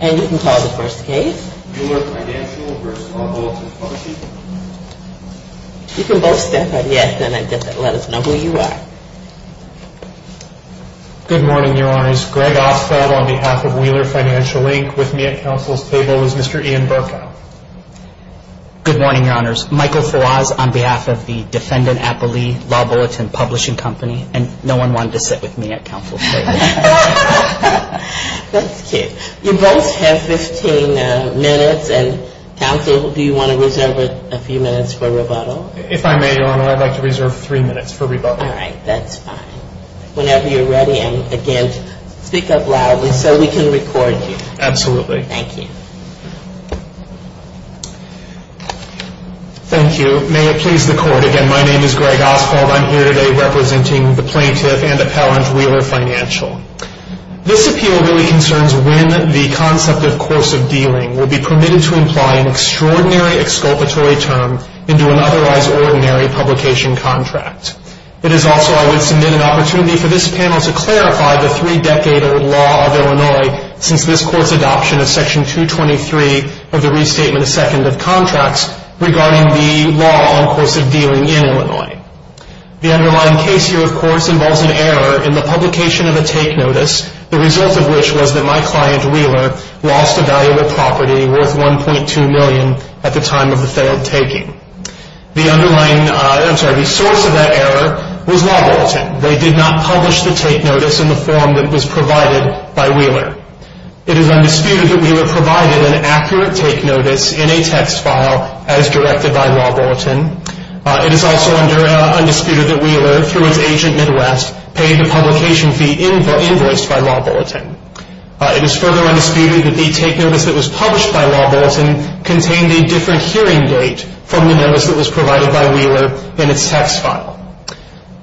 And you can call the first case. Wheeler Financial, Inc. v. Law Bulletin Publishing Co. You can both step up, yes, and let us know who you are. Good morning, Your Honors. Greg Ostrad on behalf of Wheeler Financial, Inc. With me at counsel's table is Mr. Ian Barkow. Good morning, Your Honors. Michael Fawaz on behalf of the defendant, Apolli, Law Bulletin Publishing Co. And no one wanted to sit with me at counsel's table. That's cute. You both have 15 minutes. And, counsel, do you want to reserve a few minutes for rebuttal? If I may, Your Honor, I'd like to reserve three minutes for rebuttal. All right. That's fine. Whenever you're ready. And, again, speak up loudly so we can record you. Absolutely. Thank you. Thank you. May it please the Court, again, my name is Greg Ostrad. I'm here today representing the plaintiff and appellant, Wheeler Financial. This appeal really concerns when the concept of course of dealing will be permitted to imply an extraordinary exculpatory term into an otherwise ordinary publication contract. It is also, I would submit, an opportunity for this panel to clarify the three-decade law of Illinois since this Court's adoption of Section 223 of the Restatement of Second of Contracts regarding the law on course of dealing in Illinois. The underlying case here, of course, involves an error in the publication of a take notice, the result of which was that my client, Wheeler, lost a valuable property worth $1.2 million at the time of the failed taking. The underlying, I'm sorry, the source of that error was lawbrilliant. They did not publish the take notice in the form that was provided by Wheeler. It is undisputed that Wheeler provided an accurate take notice in a text file as directed by Law Bulletin. It is also undisputed that Wheeler, through its agent Midwest, paid the publication fee invoiced by Law Bulletin. It is further undisputed that the take notice that was published by Law Bulletin contained a different hearing date from the notice that was provided by Wheeler in its text file.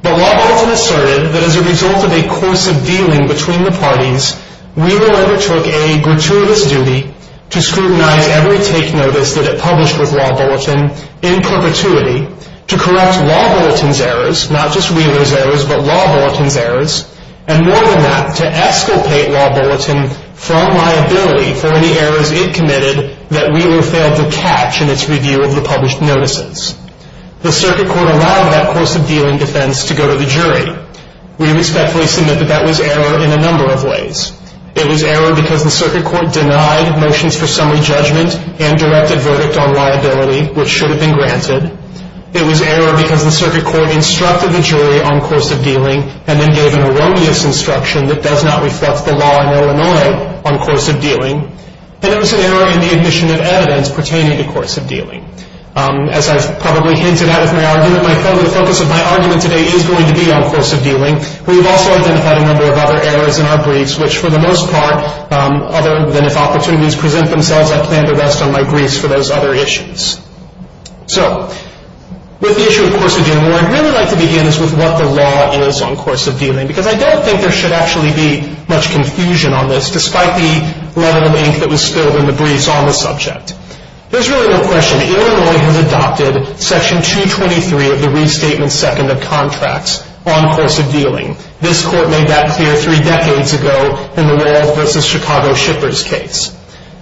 But Law Bulletin asserted that as a result of a course of dealing between the parties, Wheeler undertook a gratuitous duty to scrutinize every take notice that it published with Law Bulletin in perpetuity, to correct Law Bulletin's errors, not just Wheeler's errors, but Law Bulletin's errors, and more than that, to esculpate Law Bulletin from liability for any errors it committed that Wheeler failed to catch in its review of the published notices. The circuit court allowed that course of dealing defense to go to the jury. We respectfully submit that that was error in a number of ways. It was error because the circuit court denied motions for summary judgment and directed verdict on liability, which should have been granted. It was error because the circuit court instructed the jury on course of dealing and then gave an erroneous instruction that does not reflect the law in Illinois on course of dealing. And it was an error in the admission of evidence pertaining to course of dealing. As I've probably hinted at in my argument, the focus of my argument today is going to be on course of dealing. We've also identified a number of other errors in our briefs, which for the most part, other than if opportunities present themselves, I plan to rest on my briefs for those other issues. So with the issue of course of dealing, what I'd really like to begin is with what the law is on course of dealing, because I don't think there should actually be much confusion on this, despite the level of ink that was spilled in the briefs on the subject. There's really no question. Illinois has adopted Section 223 of the Restatement Second of Contracts on course of dealing. This court made that clear three decades ago in the Wall v. Chicago Shippers case.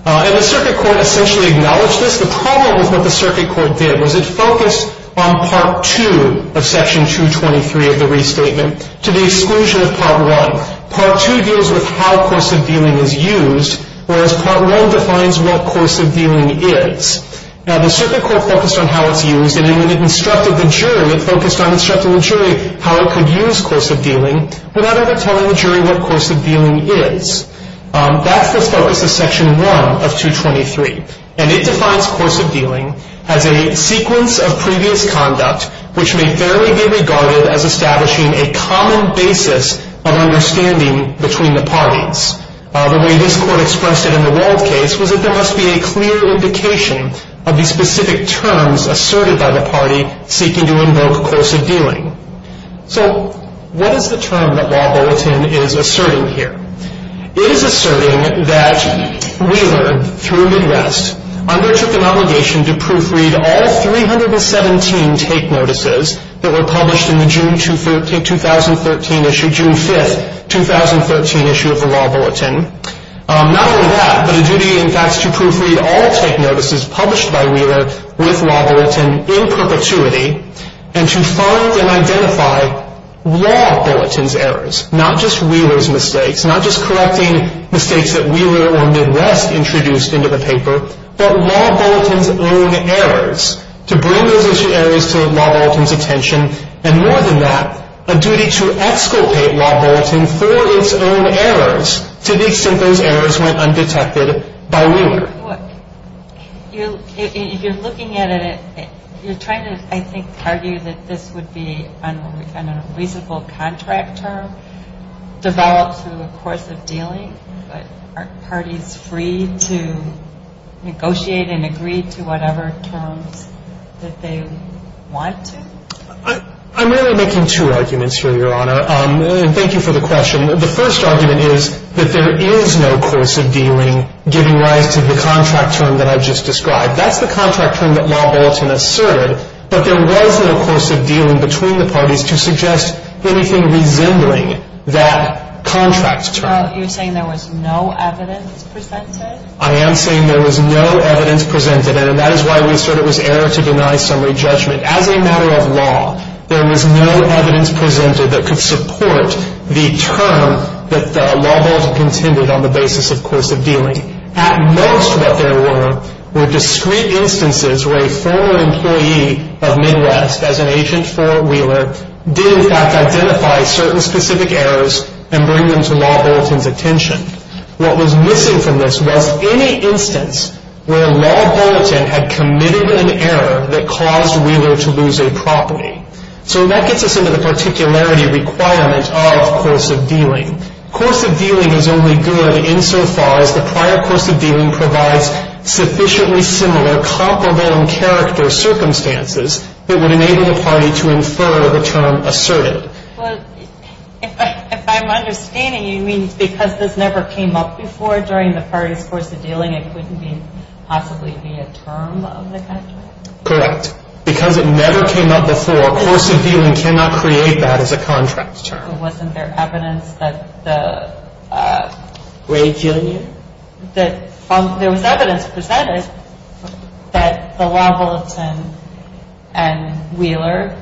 And the circuit court essentially acknowledged this. The problem with what the circuit court did was it focused on Part 2 of Section 223 of the Restatement to the exclusion of Part 1. Part 2 deals with how course of dealing is used, whereas Part 1 defines what course of dealing is. Now, the circuit court focused on how it's used, and when it instructed the jury, it focused on instructing the jury how it could use course of dealing without ever telling the jury what course of dealing is. That's the focus of Section 1 of 223. And it defines course of dealing as a sequence of previous conduct, which may fairly be regarded as establishing a common basis of understanding between the parties. The way this court expressed it in the Wald case was that there must be a clear indication of the specific terms asserted by the party seeking to invoke course of dealing. So what is the term that Law Bulletin is asserting here? It is asserting that Wheeler, through Midwest, undertook an obligation to proofread all 317 take notices that were published in the June 5, 2013 issue of the Law Bulletin. Not only that, but a duty, in fact, to proofread all take notices published by Wheeler with Law Bulletin in perpetuity, and to find and identify Law Bulletin's errors, not just Wheeler's mistakes, not just correcting mistakes that Wheeler or Midwest introduced into the paper, but Law Bulletin's own errors, to bring those errors to Law Bulletin's attention. And more than that, a duty to exculpate Law Bulletin for its own errors, to the extent those errors went undetected by Wheeler. If you're looking at it, you're trying to, I think, argue that this would be on a reasonable contract term, developed through a course of dealing, but aren't parties free to negotiate and agree to whatever terms that they want to? I'm really making two arguments here, Your Honor, and thank you for the question. The first argument is that there is no course of dealing giving rise to the contract term that I've just described. That's the contract term that Law Bulletin asserted, but there was no course of dealing between the parties to suggest anything resembling that contract term. You're saying there was no evidence presented? I am saying there was no evidence presented, and that is why we assert it was error to deny summary judgment. As a matter of law, there was no evidence presented that could support the term that Law Bulletin contended on the basis of course of dealing. At most what there were were discrete instances where a former employee of Midwest, as an agent for Wheeler, did in fact identify certain specific errors and bring them to Law Bulletin's attention. What was missing from this was any instance where Law Bulletin had committed an error that caused Wheeler to lose a property. So that gets us into the particularity requirement of course of dealing. Course of dealing is only good insofar as the prior course of dealing provides sufficiently similar comparable in character circumstances that would enable the party to infer the term asserted. Well, if I'm understanding you, you mean because this never came up before during the party's course of dealing, it couldn't possibly be a term of the contract? Correct. Because it never came up before, course of dealing cannot create that as a contract term. Or wasn't there evidence that the... Ray, can you hear me? There was evidence presented that the Law Bulletin and Wheeler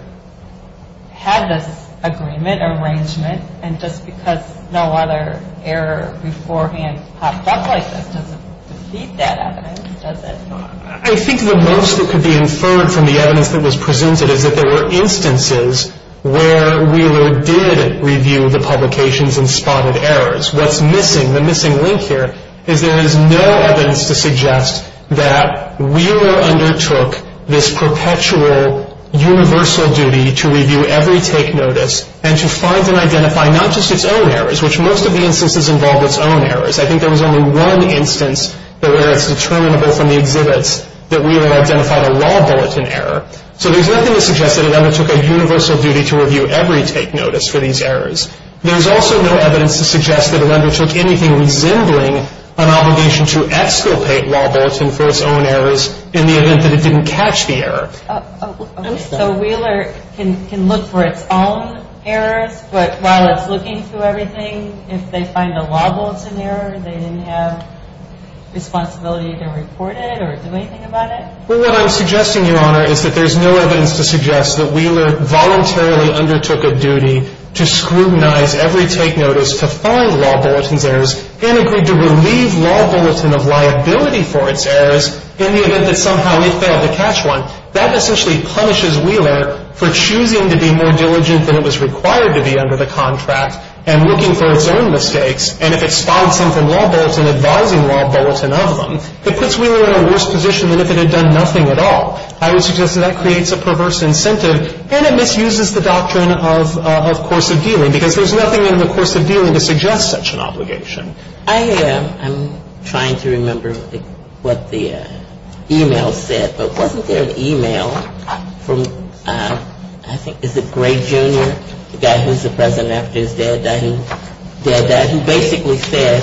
had this agreement, arrangement, and just because no other error beforehand popped up like that doesn't defeat that evidence, does it? I think the most that could be inferred from the evidence that was presented is that there were instances where Wheeler did review the publications and spotted errors. What's missing, the missing link here, is there is no evidence to suggest that Wheeler undertook this perpetual universal duty to review every take notice and to find and identify not just its own errors, which most of the instances involved its own errors. I think there was only one instance where it's determinable from the exhibits that Wheeler identified a Law Bulletin error. So there's nothing to suggest that it undertook a universal duty to review every take notice for these errors. There's also no evidence to suggest that it undertook anything resembling an obligation to exculpate Law Bulletin for its own errors in the event that it didn't catch the error. So Wheeler can look for its own errors, but while it's looking through everything, if they find a Law Bulletin error, they didn't have responsibility to report it or do anything about it? Well, what I'm suggesting, Your Honor, is that there's no evidence to suggest that Wheeler voluntarily undertook a duty to scrutinize every take notice to find Law Bulletin's errors and agreed to relieve Law Bulletin of liability for its errors in the event that somehow it failed to catch one. That essentially punishes Wheeler for choosing to be more diligent than it was required to be under the contract and looking for its own mistakes. And if it spied something from Law Bulletin advising Law Bulletin of them, it puts Wheeler in a worse position than if it had done nothing at all. I would suggest that that creates a perverse incentive, and it misuses the doctrine of course of dealing, because there's nothing in the course of dealing to suggest such an obligation. I'm trying to remember what the e-mail said, but wasn't there an e-mail from, I think, is it Gray, Jr.? The guy who's the president after his dad died, who basically said,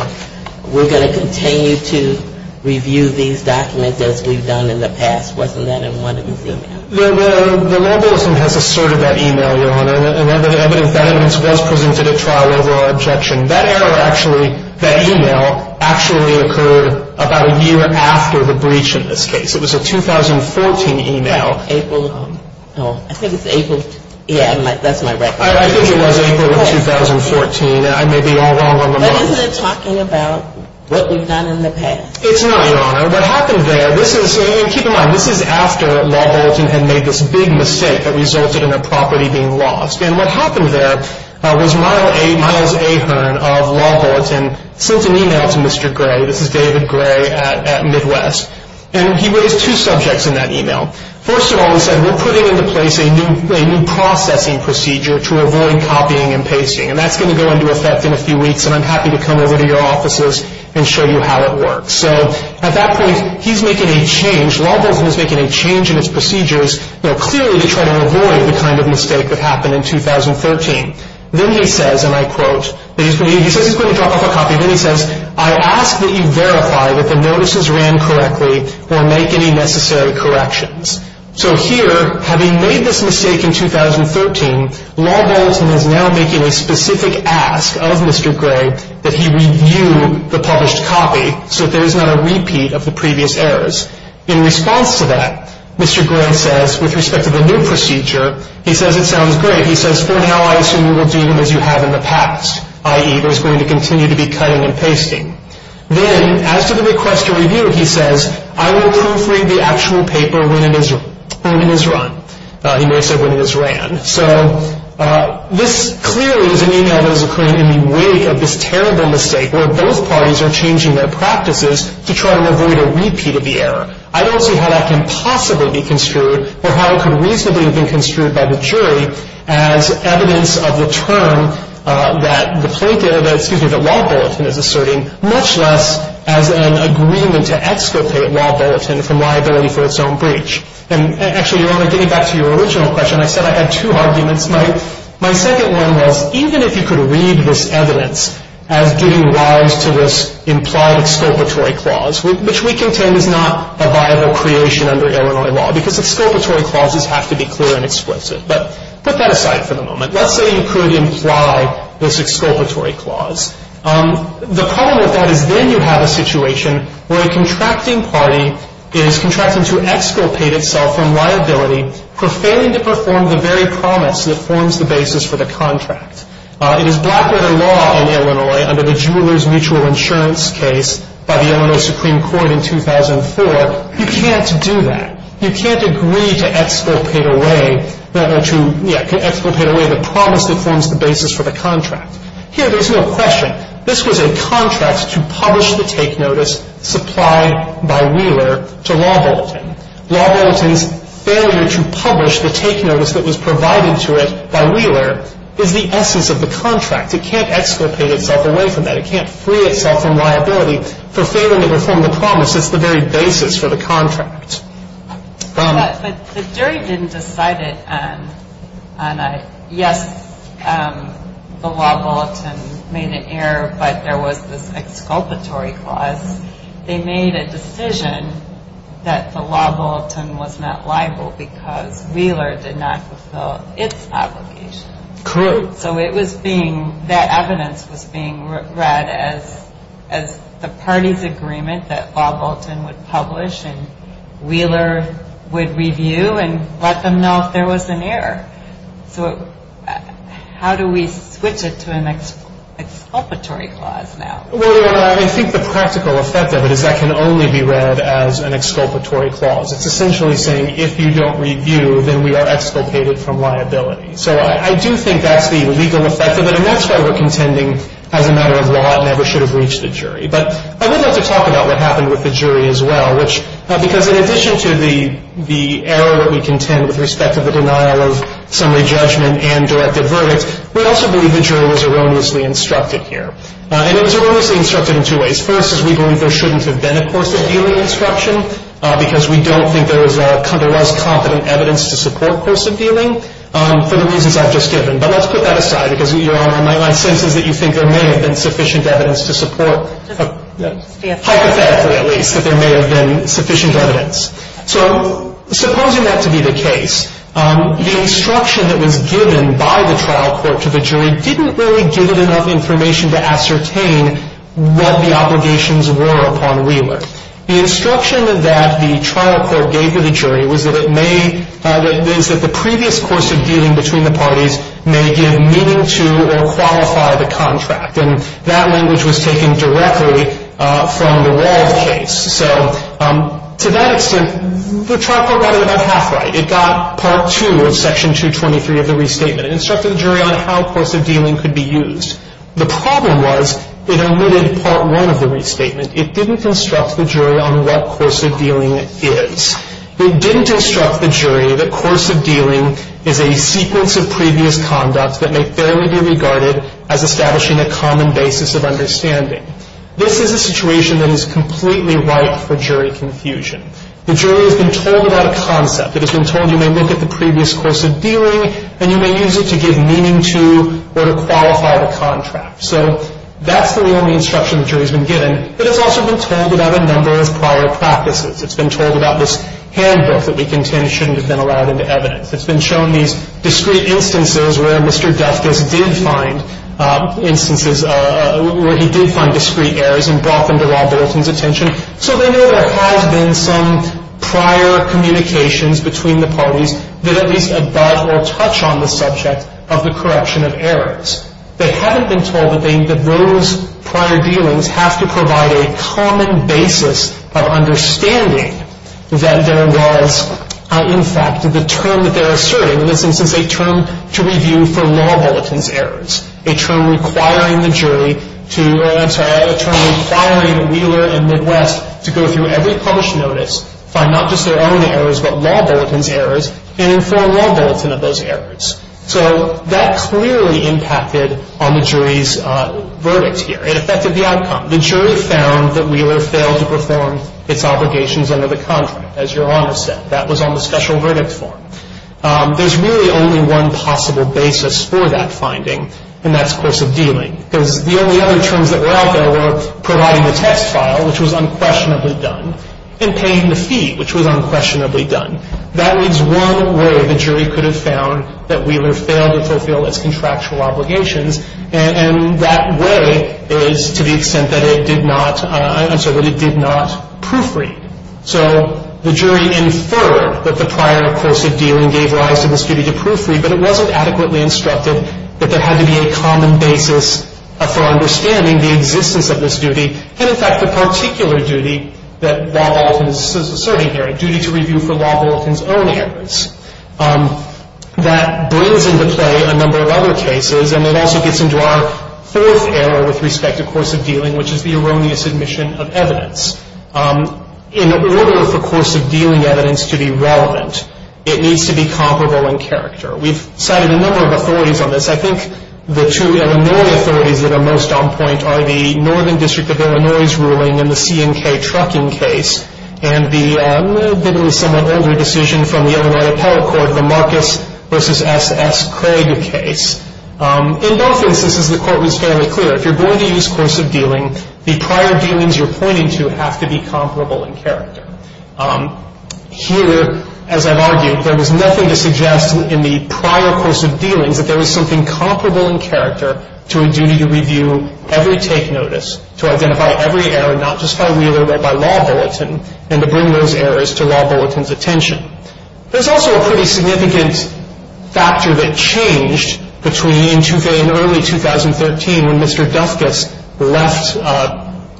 we're going to continue to review these documents as we've done in the past. Wasn't that in one of his e-mails? The Law Bulletin has asserted that e-mail, Your Honor. And evidence that evidence was presented at trial over our objection. That error actually, that e-mail, actually occurred about a year after the breach in this case. It was a 2014 e-mail. Well, April, oh, I think it's April, yeah, that's my record. I think it was April of 2014. I may be all wrong on the month. But isn't it talking about what we've done in the past? It's not, Your Honor. What happened there, this is, and keep in mind, this is after Law Bulletin had made this big mistake that resulted in a property being lost. And what happened there was Miles Ahern of Law Bulletin sent an e-mail to Mr. Gray. This is David Gray at Midwest. And he raised two subjects in that e-mail. First of all, he said, we're putting into place a new processing procedure to avoid copying and pasting. And that's going to go into effect in a few weeks, and I'm happy to come over to your offices and show you how it works. So at that point, he's making a change, Law Bulletin is making a change in its procedures, you know, clearly to try to avoid the kind of mistake that happened in 2013. Then he says, and I quote, he says he's going to drop off a copy. Then he says, I ask that you verify that the notices ran correctly or make any necessary corrections. So here, having made this mistake in 2013, Law Bulletin is now making a specific ask of Mr. Gray that he review the published copy so that there is not a repeat of the previous errors. In response to that, Mr. Gray says, with respect to the new procedure, he says it sounds great. He says, for now, I assume you will do as you have in the past, i.e., there's going to continue to be cutting and pasting. Then, as to the request to review, he says, I will proofread the actual paper when it is run. He may have said when it is ran. So this clearly is an e-mail that is occurring in the wake of this terrible mistake where both parties are changing their practices to try and avoid a repeat of the error. I don't see how that can possibly be construed or how it could reasonably have been construed by the jury as evidence of the term that the plaintiff, excuse me, that Law Bulletin is asserting, much less as an agreement to exculpate Law Bulletin from liability for its own breach. And actually, Your Honor, getting back to your original question, I said I had two arguments. My second one was even if you could read this evidence as giving rise to this implied exculpatory clause, which we contend is not a viable creation under Illinois law because exculpatory clauses have to be clear and explicit. But put that aside for the moment. Let's say you could imply this exculpatory clause. The problem with that is then you have a situation where a contracting party is contracting to exculpate itself from liability for failing to perform the very promise that forms the basis for the contract. It is Blackwater law in Illinois under the Jewelers Mutual Insurance case by the Illinois Supreme Court in 2004. You can't do that. You can't agree to exculpate away the promise that forms the basis for the contract. Here there's no question. This was a contract to publish the take notice supplied by Wheeler to Law Bulletin. Law Bulletin's failure to publish the take notice that was provided to it by Wheeler is the essence of the contract. It can't exculpate itself away from that. It can't free itself from liability for failing to perform the promise that's the very basis for the contract. But the jury didn't decide it on a yes, the Law Bulletin made an error, but there was this exculpatory clause. They made a decision that the Law Bulletin was not liable because Wheeler did not fulfill its obligation. Correct. So it was being, that evidence was being read as the party's agreement that Law Bulletin would publish and Wheeler would review and let them know if there was an error. So how do we switch it to an exculpatory clause now? Well, I think the practical effect of it is that can only be read as an exculpatory clause. It's essentially saying if you don't review, then we are exculpated from liability. So I do think that's the legal effect of it, and that's why we're contending as a matter of law it never should have reached the jury. But I would like to talk about what happened with the jury as well, because in addition to the error that we contend with respect to the denial of summary judgment and directed verdicts, we also believe the jury was erroneously instructed here. And it was erroneously instructed in two ways. First is we believe there shouldn't have been a course of dealing instruction because we don't think there was competent evidence to support course of dealing. For the reasons I've just given. But let's put that aside, because, Your Honor, my sense is that you think there may have been sufficient evidence to support. Hypothetically, at least, that there may have been sufficient evidence. So supposing that to be the case, the instruction that was given by the trial court to the jury didn't really give it enough information to ascertain what the obligations were upon Wheeler. The instruction that the trial court gave to the jury was that it may, is that the previous course of dealing between the parties may give meaning to or qualify the contract. And that language was taken directly from the Wald case. So to that extent, the trial court got it about half right. It got Part 2 of Section 223 of the restatement. It instructed the jury on how course of dealing could be used. The problem was it omitted Part 1 of the restatement. It didn't instruct the jury on what course of dealing is. It didn't instruct the jury that course of dealing is a sequence of previous conduct that may fairly be regarded as establishing a common basis of understanding. This is a situation that is completely ripe for jury confusion. The jury has been told about a concept. It has been told you may look at the previous course of dealing, and you may use it to give meaning to or to qualify the contract. So that's the only instruction the jury has been given. But it's also been told about a number of prior practices. It's been told about this handbook that we contend shouldn't have been allowed into evidence. It's been shown these discrete instances where Mr. Dufkis did find instances, where he did find discrete errors and brought them to Rob Bolton's attention. So they know there has been some prior communications between the parties that at least abut or touch on the subject of the corruption of errors. They haven't been told that those prior dealings have to provide a common basis of understanding that there was, in fact, the term that they're asserting. In this instance, a term to review for Rob Bolton's errors. A term requiring the jury to, I'm sorry, a term requiring Wheeler and Midwest to go through every published notice, find not just their own errors but Rob Bolton's errors, and inform Rob Bolton of those errors. So that clearly impacted on the jury's verdict here. It affected the outcome. The jury found that Wheeler failed to perform its obligations under the contract, as Your Honor said. That was on the special verdict form. There's really only one possible basis for that finding, and that's course of dealing. Because the only other terms that were out there were providing the text file, which was unquestionably done, and paying the fee, which was unquestionably done. That means one way the jury could have found that Wheeler failed to fulfill its contractual obligations, and that way is to the extent that it did not, I'm sorry, that it did not proofread. So the jury inferred that the prior course of dealing gave rise to this duty to proofread, but it wasn't adequately instructed that there had to be a common basis for understanding the existence of this duty, and, in fact, the particular duty that Rob Bolton is asserting here, duty to review for law Bolton's own errors. That brings into play a number of other cases, and it also gets into our fourth error with respect to course of dealing, which is the erroneous admission of evidence. In order for course of dealing evidence to be relevant, it needs to be comparable in character. We've cited a number of authorities on this. I think the two Illinois authorities that are most on point are the Northern District of Illinois's ruling in the C&K trucking case and the maybe somewhat older decision from the Illinois Appellate Court, the Marcus v. S. S. Craig case. In both instances, the Court was fairly clear. If you're going to use course of dealing, the prior dealings you're pointing to have to be comparable in character. Here, as I've argued, there was nothing to suggest in the prior course of dealings that there was something comparable in character to a duty to review every take notice, to identify every error, not just by Wheeler but by law Bolton, and to bring those errors to law Bolton's attention. There's also a pretty significant factor that changed between Tuffe and early 2013 when Mr. Dufkus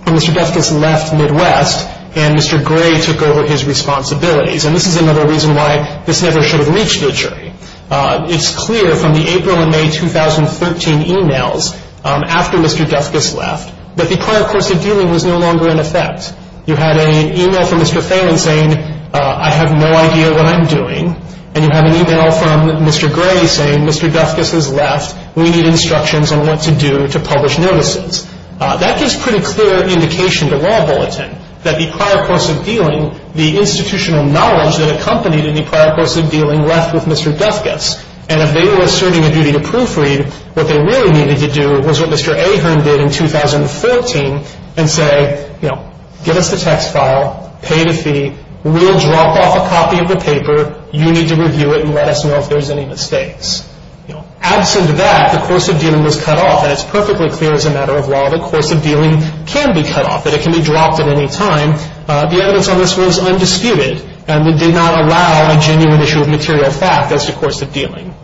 left Midwest and Mr. Gray took over his responsibilities, and this is another reason why this never should have reached the jury. It's clear from the April and May 2013 emails after Mr. Dufkus left that the prior course of dealing was no longer in effect. You had an email from Mr. Phelan saying, I have no idea what I'm doing, and you have an email from Mr. Gray saying Mr. Dufkus has left, we need instructions on what to do to publish notices. That gives pretty clear indication to law Bolton that the prior course of dealing, the institutional knowledge that accompanied the prior course of dealing left with Mr. Dufkus, and if they were asserting a duty to proofread, what they really needed to do was what Mr. Ahern did in 2014 and say, you know, give us the text file, pay the fee, we'll drop off a copy of the paper, you need to review it and let us know if there's any mistakes. You know, absent of that, the course of dealing was cut off, and it's perfectly clear as a matter of law the course of dealing can be cut off, that it can be dropped at any time. The evidence on this was undisputed, and it did not allow a genuine issue of material fact as to the course of dealing.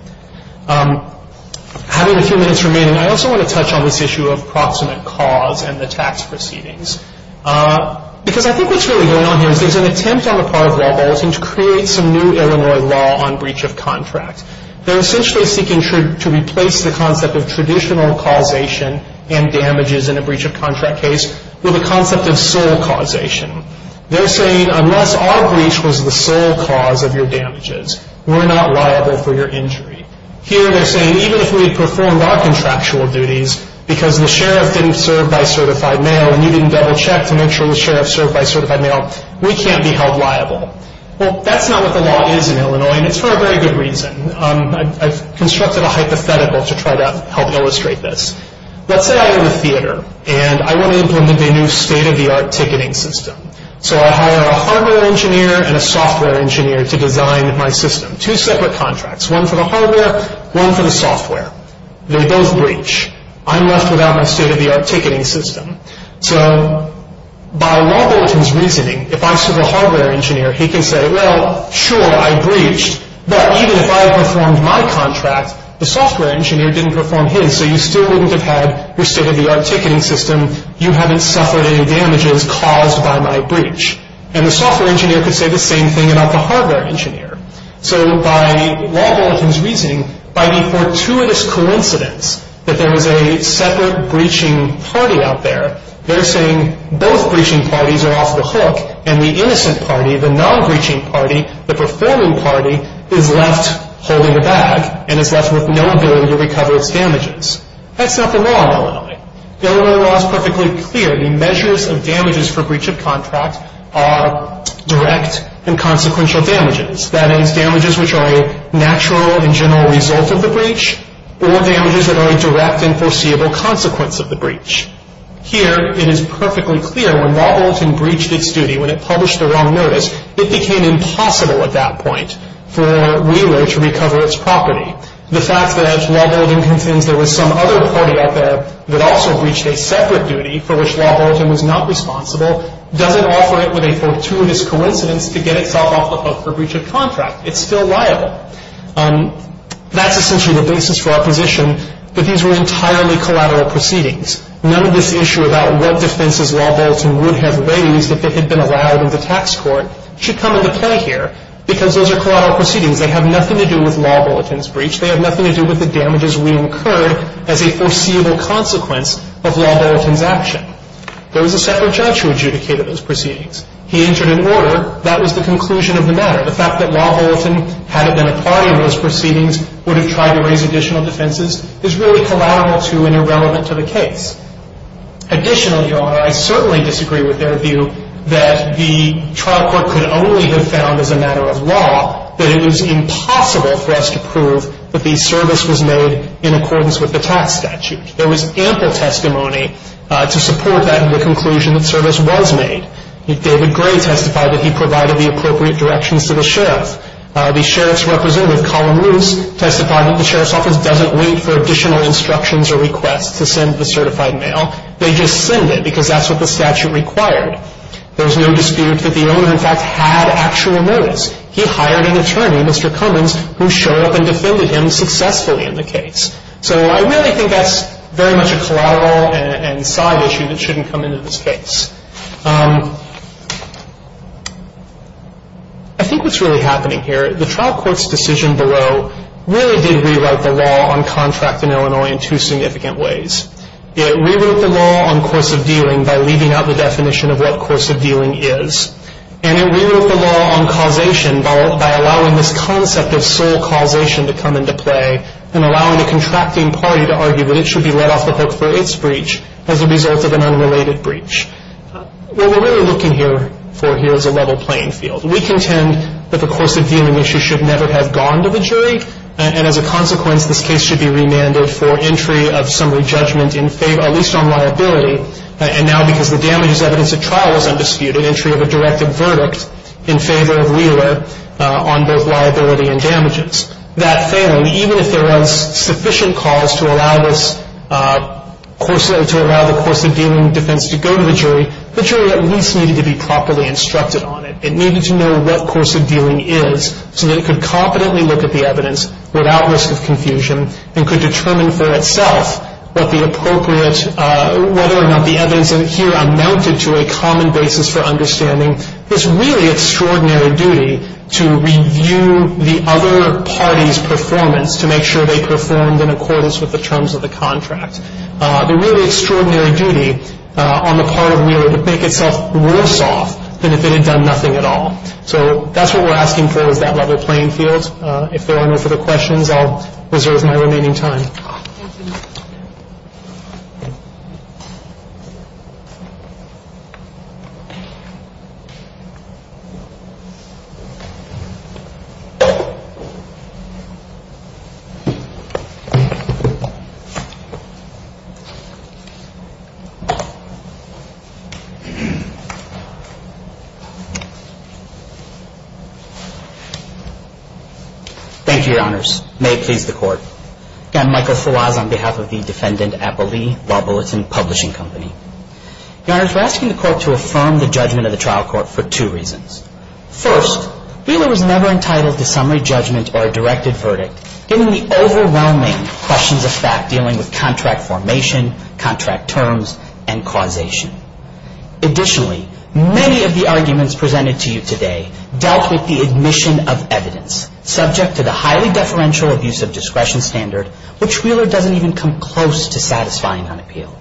Having a few minutes remaining, I also want to touch on this issue of proximate cause and the tax proceedings, because I think what's really going on here is there's an attempt on the part of law Bolton to create some new Illinois law on breach of contract. They're essentially seeking to replace the concept of traditional causation and damages in a breach of contract case with the concept of sole causation. They're saying unless our breach was the sole cause of your damages, we're not liable for your injury. Here they're saying even if we performed our contractual duties, because the sheriff didn't serve by certified mail, and you didn't double check to make sure the sheriff served by certified mail, we can't be held liable. Well, that's not what the law is in Illinois, and it's for a very good reason. I've constructed a hypothetical to try to help illustrate this. Let's say I own a theater, and I want to implement a new state-of-the-art ticketing system. So I hire a hardware engineer and a software engineer to design my system. Two separate contracts, one for the hardware, one for the software. They both breach. I'm left without my state-of-the-art ticketing system. So by law Bolton's reasoning, if I serve a hardware engineer, he can say, well, sure, I breached, but even if I performed my contract, the software engineer didn't perform his, so you still wouldn't have had your state-of-the-art ticketing system. You haven't suffered any damages caused by my breach. And the software engineer could say the same thing about the hardware engineer. So by law Bolton's reasoning, by the fortuitous coincidence that there is a separate breaching party out there, they're saying both breaching parties are off the hook, and the innocent party, the non-breaching party, the performing party, is left holding the bag and is left with no ability to recover its damages. That's not the law in Illinois. The Illinois law is perfectly clear. The measures of damages for breach of contract are direct and consequential damages, that is, damages which are a natural and general result of the breach, or damages that are a direct and foreseeable consequence of the breach. Here it is perfectly clear when law Bolton breached its duty, when it published the wrong notice, it became impossible at that point for Wheeler to recover its property. The fact that, as law Bolton contends, there was some other party out there that also breached a separate duty for which law Bolton was not responsible doesn't offer it with a fortuitous coincidence to get itself off the hook for breach of contract. It's still liable. That's essentially the basis for our position that these were entirely collateral proceedings. None of this issue about what defenses law Bolton would have raised if it had been allowed in the tax court should come into play here because those are collateral proceedings. They have nothing to do with law Bolton's breach. They have nothing to do with the damages we incurred as a foreseeable consequence of law Bolton's action. There was a separate judge who adjudicated those proceedings. He entered an order. That was the conclusion of the matter. The fact that law Bolton, had it been a party in those proceedings, would have tried to raise additional defenses is really collateral to and irrelevant to the case. Additionally, Your Honor, I certainly disagree with their view that the trial court could only have found, as a matter of law, that it was impossible for us to prove that the service was made in accordance with the tax statute. There was ample testimony to support that in the conclusion that service was made. David Gray testified that he provided the appropriate directions to the sheriff. The sheriff's representative, Colin Luce, testified that the sheriff's office doesn't wait for additional instructions or requests to send the certified mail. They just send it because that's what the statute required. There was no dispute that the owner, in fact, had actual notice. He hired an attorney, Mr. Cummins, who showed up and defended him successfully in the case. So I really think that's very much a collateral and side issue that shouldn't come into this case. I think what's really happening here, the trial court's decision below really did rewrite the law on contract in Illinois in two significant ways. It rewrote the law on course of dealing by leaving out the definition of what course of dealing is. And it rewrote the law on causation by allowing this concept of sole causation to come into play and allowing the contracting party to argue that it should be let off the hook for its breach as a result of an unrelated breach. What we're really looking here for here is a level playing field. We contend that the course of dealing issue should never have gone to the jury. And as a consequence, this case should be remanded for entry of summary judgment in favor, at least on liability, and now because the damage as evidence of trial was undisputed, entry of a directive verdict in favor of Wheeler on both liability and damages. That failing, even if there was sufficient cause to allow the course of dealing defense to go to the jury, the jury at least needed to be properly instructed on it. It needed to know what course of dealing is so that it could competently look at the evidence without risk of confusion and could determine for itself whether or not the evidence here amounted to a common basis for understanding. It's really extraordinary duty to review the other party's performance to make sure they performed in accordance with the terms of the contract. The really extraordinary duty on the part of Wheeler to make itself worse off than if it had done nothing at all. So that's what we're asking for is that level playing field. If there are no further questions, I'll reserve my remaining time. Thank you. Thank you, Your Honors. Again, Michael Falaz on behalf of the Defendant Appellee Law Bulletin Publishing Company. Your Honors, we're asking the Court to affirm the judgment of the trial court for two reasons. First, Wheeler was never entitled to summary judgment or a directed verdict, given the overwhelming questions of fact dealing with contract formation, contract terms, and causation. Additionally, many of the arguments presented to you today dealt with the admission of evidence subject to the highly deferential abuse of discretion standard, which Wheeler doesn't even come close to satisfying on appeal.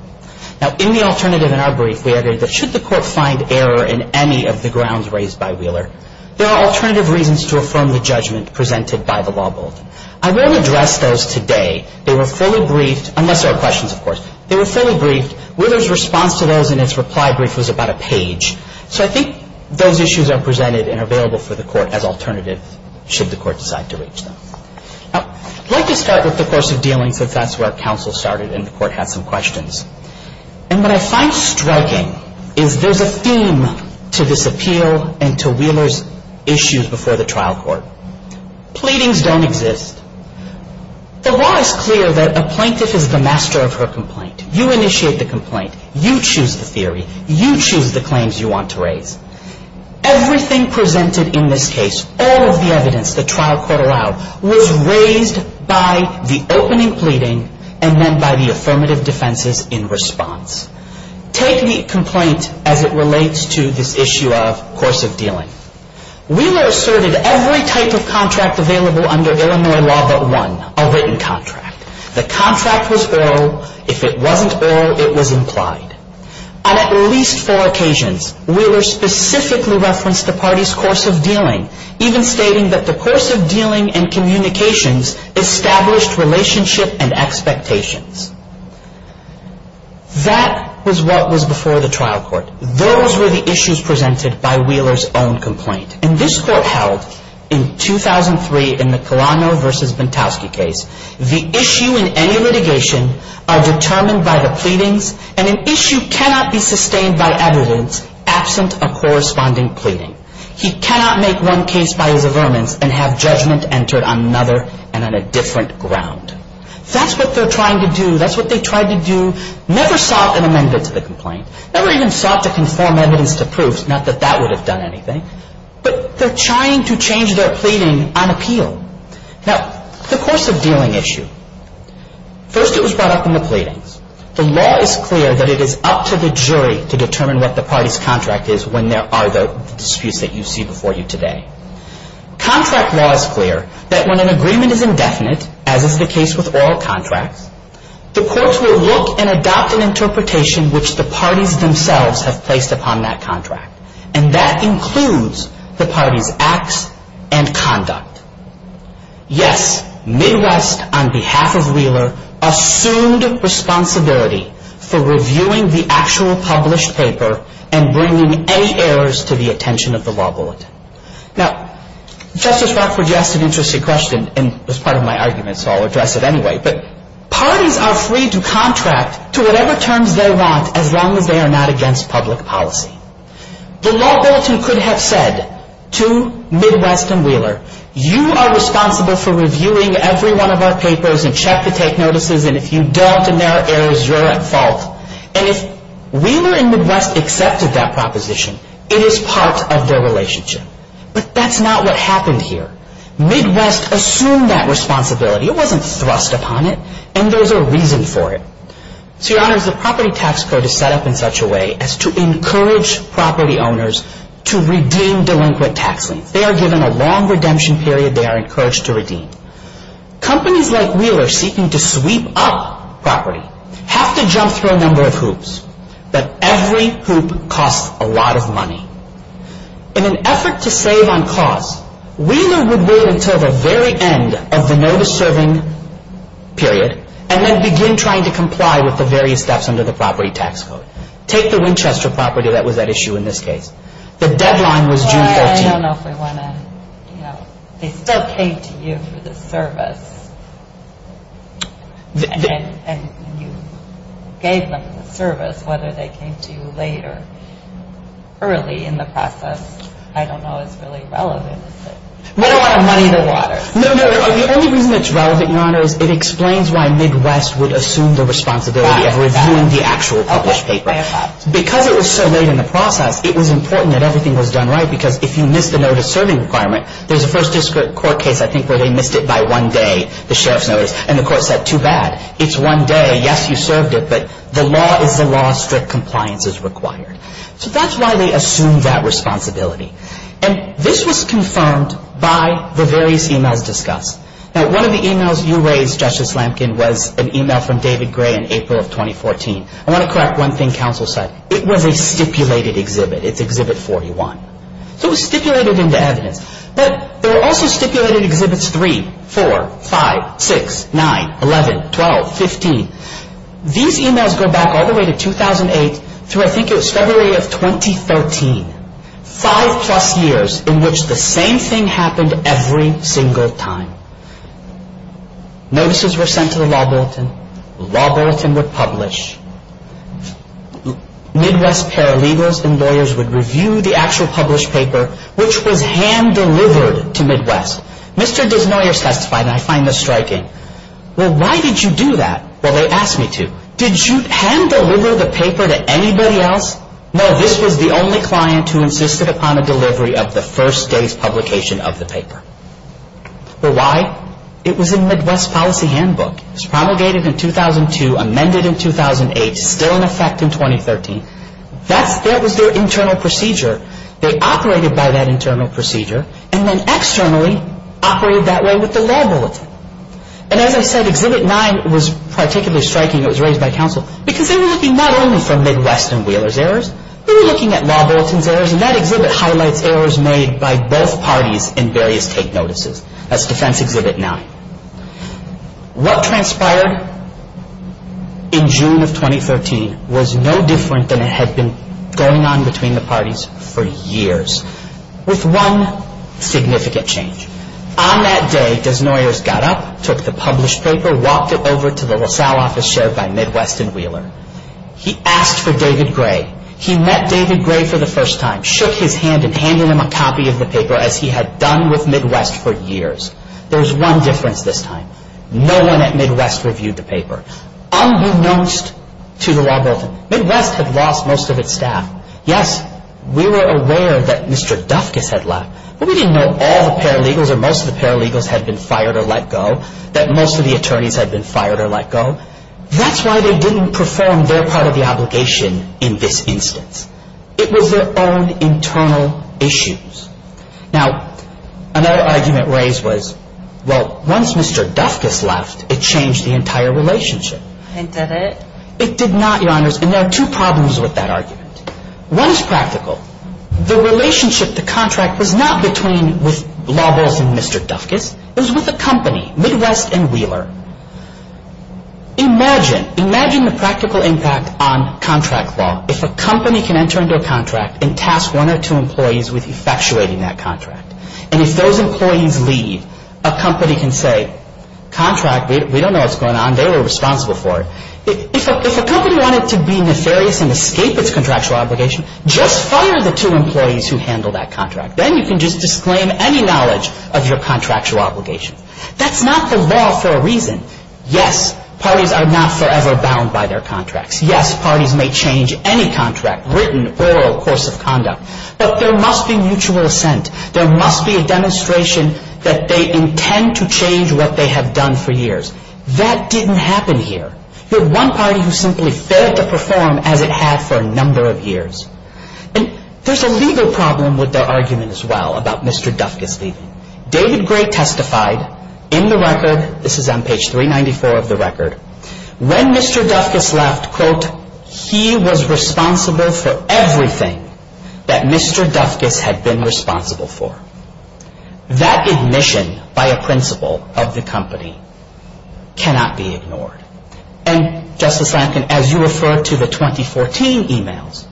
Now, in the alternative in our brief, we argued that should the Court find error in any of the grounds raised by Wheeler, there are alternative reasons to affirm the judgment presented by the law bulletin. I rarely address those today. They were fully briefed, unless there are questions, of course. They were fully briefed. Wheeler's response to those in its reply brief was about a page. So I think those issues are presented and are available for the Court as alternatives, should the Court decide to reach them. I'd like to start with the course of dealing, since that's where our counsel started and the Court had some questions. And what I find striking is there's a theme to this appeal and to Wheeler's issues before the trial court. Pleadings don't exist. You initiate the complaint. You choose the theory. You choose the claims you want to raise. Everything presented in this case, all of the evidence the trial court allowed, was raised by the opening pleading and then by the affirmative defenses in response. Take the complaint as it relates to this issue of course of dealing. Wheeler asserted every type of contract available under Illinois law but one, a written contract. The contract was oral. If it wasn't oral, it was implied. On at least four occasions, Wheeler specifically referenced the party's course of dealing, even stating that the course of dealing and communications established relationship and expectations. That was what was before the trial court. Those were the issues presented by Wheeler's own complaint. And this Court held in 2003 in the Colano v. Bontowsky case, the issue in any litigation are determined by the pleadings and an issue cannot be sustained by evidence absent a corresponding pleading. He cannot make one case by his affirmance and have judgment entered on another and on a different ground. That's what they're trying to do. That's what they tried to do. Never sought an amendment to the complaint, never even sought to conform evidence to proof, not that that would have done anything, but they're trying to change their pleading on appeal. Now, the course of dealing issue. First it was brought up in the pleadings. The law is clear that it is up to the jury to determine what the party's contract is when there are the disputes that you see before you today. Contract law is clear that when an agreement is indefinite, as is the case with all contracts, the courts will look and adopt an interpretation which the parties themselves have placed upon that contract. And that includes the party's acts and conduct. Yes, Midwest, on behalf of Wheeler, assumed responsibility for reviewing the actual published paper and bringing any errors to the attention of the law bulletin. Now, Justice Rockford, you asked an interesting question, and it was part of my argument, so I'll address it anyway, but parties are free to contract to whatever terms they want as long as they are not against public policy. The law bulletin could have said to Midwest and Wheeler, you are responsible for reviewing every one of our papers and check to take notices, and if you don't and there are errors, you're at fault. And if Wheeler and Midwest accepted that proposition, it is part of their relationship. But that's not what happened here. Midwest assumed that responsibility. It wasn't thrust upon it, and there's a reason for it. So, Your Honors, the property tax code is set up in such a way as to encourage property owners to redeem delinquent tax liens. They are given a long redemption period. They are encouraged to redeem. Companies like Wheeler seeking to sweep up property have to jump through a number of hoops, but every hoop costs a lot of money. In an effort to save on costs, Wheeler would wait until the very end of the notice-serving period and then begin trying to comply with the various steps under the property tax code. Take the Winchester property that was at issue in this case. The deadline was June 13th. Well, I don't know if we want to, you know, they still came to you for the service, and you gave them the service, whether they came to you late or early in the process, I don't know if it's really relevant. The only reason it's relevant, Your Honor, is it explains why Midwest would assume the responsibility of reviewing the actual published paper. Because it was so late in the process, it was important that everything was done right, because if you missed the notice-serving requirement, there's a first district court case, I think, where they missed it by one day, the sheriff's notice, and the court said, too bad, it's one day, yes, you served it, but the law is the law, strict compliance is required. So that's why they assumed that responsibility. And this was confirmed by the various emails discussed. Now, one of the emails you raised, Justice Lamkin, was an email from David Gray in April of 2014. I want to correct one thing counsel said. It was a stipulated exhibit. It's Exhibit 41. So it was stipulated into evidence. But there were also stipulated Exhibits 3, 4, 5, 6, 9, 11, 12, 15. These emails go back all the way to 2008 through, I think it was February of 2013. Five plus years in which the same thing happened every single time. Notices were sent to the law bulletin. The law bulletin would publish. Midwest paralegals and lawyers would review the actual published paper, which was hand-delivered to Midwest. Mr. Desnoyers testified, and I find this striking. Well, why did you do that? Well, they asked me to. Did you hand-deliver the paper to anybody else? No, this was the only client who insisted upon a delivery of the first day's publication of the paper. But why? It was a Midwest policy handbook. It was promulgated in 2002, amended in 2008, still in effect in 2013. That was their internal procedure. They operated by that internal procedure, and then externally operated that way with the law bulletin. And as I said, Exhibit 9 was particularly striking. It was raised by counsel. Because they were looking not only for Midwest and Wheeler's errors, they were looking at law bulletin's errors. And that exhibit highlights errors made by both parties in various take notices. That's Defense Exhibit 9. What transpired in June of 2013 was no different than had been going on between the parties for years, with one significant change. On that day, Desnoyers got up, took the published paper, walked it over to the LaSalle office chaired by Midwest and Wheeler. He asked for David Gray. He met David Gray for the first time, shook his hand and handed him a copy of the paper, as he had done with Midwest for years. There was one difference this time. No one at Midwest reviewed the paper, unbeknownst to the law bulletin. Midwest had lost most of its staff. Yes, we were aware that Mr. Dufkus had left, but we didn't know all the paralegals or most of the paralegals had been fired or let go, that most of the attorneys had been fired or let go. That's why they didn't perform their part of the obligation in this instance. It was their own internal issues. Now, another argument raised was, well, once Mr. Dufkus left, it changed the entire relationship. It did not, Your Honors, and there are two problems with that argument. One is practical. The relationship, the contract was not between, with law bulletin Mr. Dufkus. It was with a company, Midwest and Wheeler. Imagine, imagine the practical impact on contract law if a company can enter into a contract and task one or two employees with effectuating that contract. And if those employees leave, a company can say, contract, we don't know what's going on. If a company wanted to be nefarious and escape its contractual obligation, just fire the two employees who handled that contract. Then you can just disclaim any knowledge of your contractual obligation. That's not the law for a reason. Yes, parties are not forever bound by their contracts. Yes, parties may change any contract, written, oral, course of conduct, but there must be mutual assent. There must be a demonstration that they intend to change what they have done for years. That didn't happen here. You had one party who simply failed to perform as it had for a number of years. And there's a legal problem with their argument as well about Mr. Dufkus leaving. David Gray testified in the record, this is on page 394 of the record, when Mr. Dufkus left, quote, he was responsible for everything that Mr. Dufkus had been responsible for. That admission by a principal of the company cannot be ignored. And, Justice Lankin, as you referred to the 2014 emails,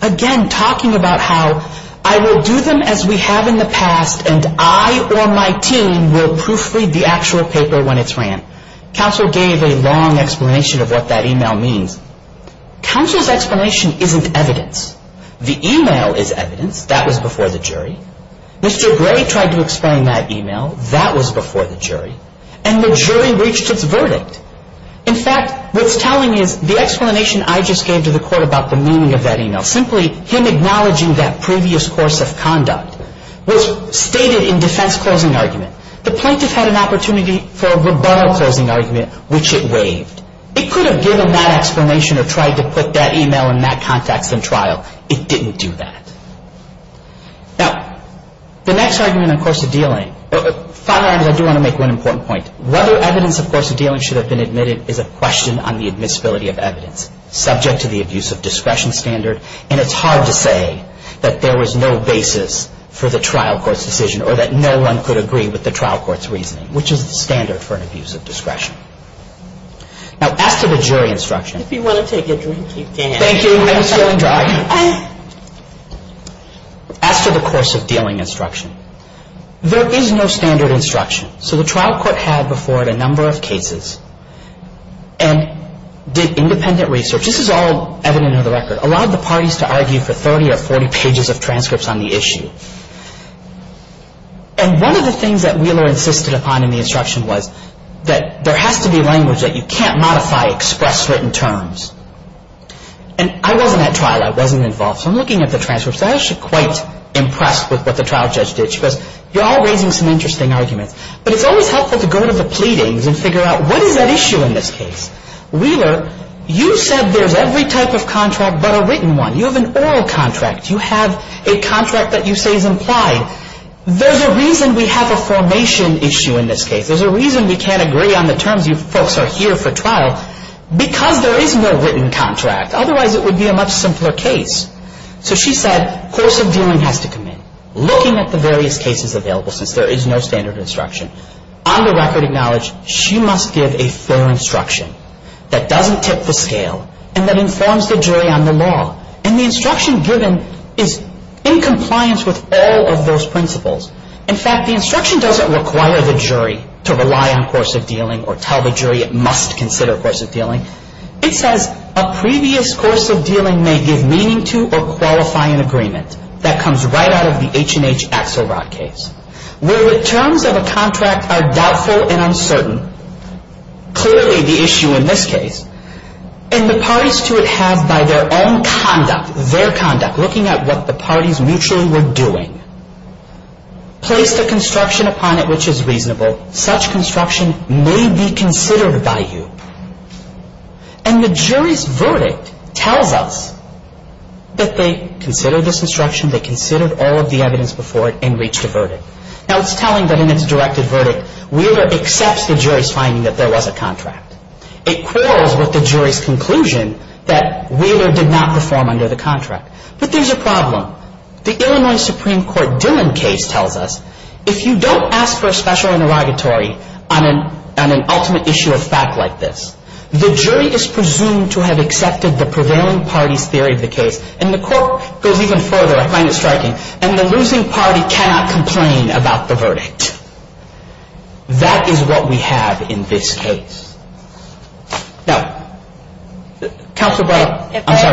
again, talking about how I will do them as we have in the past and I or my team will proofread the actual paper when it's ran. Counsel gave a long explanation of what that email means. Counsel's explanation isn't evidence. The email is evidence. That was before the jury. Mr. Gray tried to explain that email. That was before the jury. And the jury reached its verdict. In fact, what's telling is the explanation I just gave to the court about the meaning of that email, simply him acknowledging that previous course of conduct was stated in defense closing argument. The plaintiff had an opportunity for a rebuttal closing argument, which it waived. It could have given that explanation or tried to put that email in that context in trial. It didn't do that. Now, the next argument on course of dealing, final argument, I do want to make one important point. Whether evidence of course of dealing should have been admitted is a question on the admissibility of evidence, subject to the abuse of discretion standard. And it's hard to say that there was no basis for the trial court's decision or that no one could agree with the trial court's reasoning, which is the standard for an abuse of discretion. Now, as to the jury instruction. As to the course of dealing instruction, there is no standard instruction. So the trial court had before it a number of cases and did independent research. This is all evident in the record. It allowed the parties to argue for 30 or 40 pages of transcripts on the issue. And one of the things that Wheeler insisted upon in the instruction was that there has to be language that you can't modify expressed written terms. And I wasn't at trial. I wasn't involved. So I'm looking at the transcripts and I'm actually quite impressed with what the trial judge did. Because you're all raising some interesting arguments. But it's always helpful to go to the pleadings and figure out what is at issue in this case. Wheeler, you said there's every type of contract but a written one. You have an oral contract. You have a contract that you say is implied. There's a reason we have a formation issue in this case. There's a reason we can't agree on the terms. You folks are here for trial because there is no written contract. Otherwise it would be a much simpler case. So she said course of dealing has to come in. Looking at the various cases available, since there is no standard instruction, on the record acknowledge she must give a fair instruction that doesn't tip the scale and that informs the jury on the law. And the instruction given is in compliance with all of those principles. In fact, the instruction doesn't require the jury to rely on course of dealing or tell the jury it must consider course of dealing. It says a previous course of dealing may give meaning to or qualify an agreement. That comes right out of the H&H Axelrod case. Where the terms of a contract are doubtful and uncertain, clearly the issue in this case, and the parties to it have by their own conduct, their conduct, looking at what the parties mutually were doing, placed a construction upon it which is reasonable. Such construction may be considered by you. And the jury's verdict tells us that they considered this instruction, they considered all of the evidence before it, and reached a verdict. Now, it's telling that in its directed verdict, Wheeler accepts the jury's finding that there was a contract. It quarrels with the jury's conclusion that Wheeler did not perform under the contract. But there's a problem. The Illinois Supreme Court Dillon case tells us if you don't ask for a special interrogatory on an ultimate issue of fact like this, the jury is presumed to have accepted the prevailing party's theory of the case. And the court goes even further, I find it striking, and the losing party cannot complain about the verdict. That is what we have in this case. Now, Counselor Breyer, I'm sorry. If I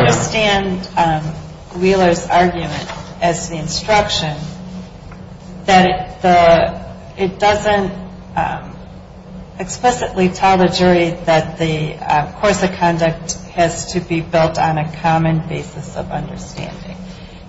understand Wheeler's argument as the instruction, that it doesn't explicitly tell the jury that the course of conduct has to be built on a common basis of fact.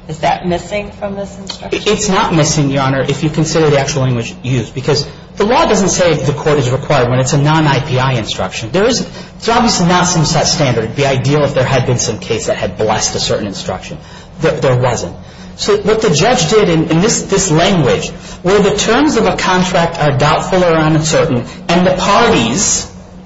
Is that missing from this instruction? It's not missing, Your Honor, if you consider the actual language used. Because the law doesn't say the court is required when it's a non-IPI instruction. There is not some standard. It would be ideal if there had been some case that had blessed a certain instruction. There wasn't. So what the judge did in this language were the terms of a contract are doubtful or uncertain, and the parties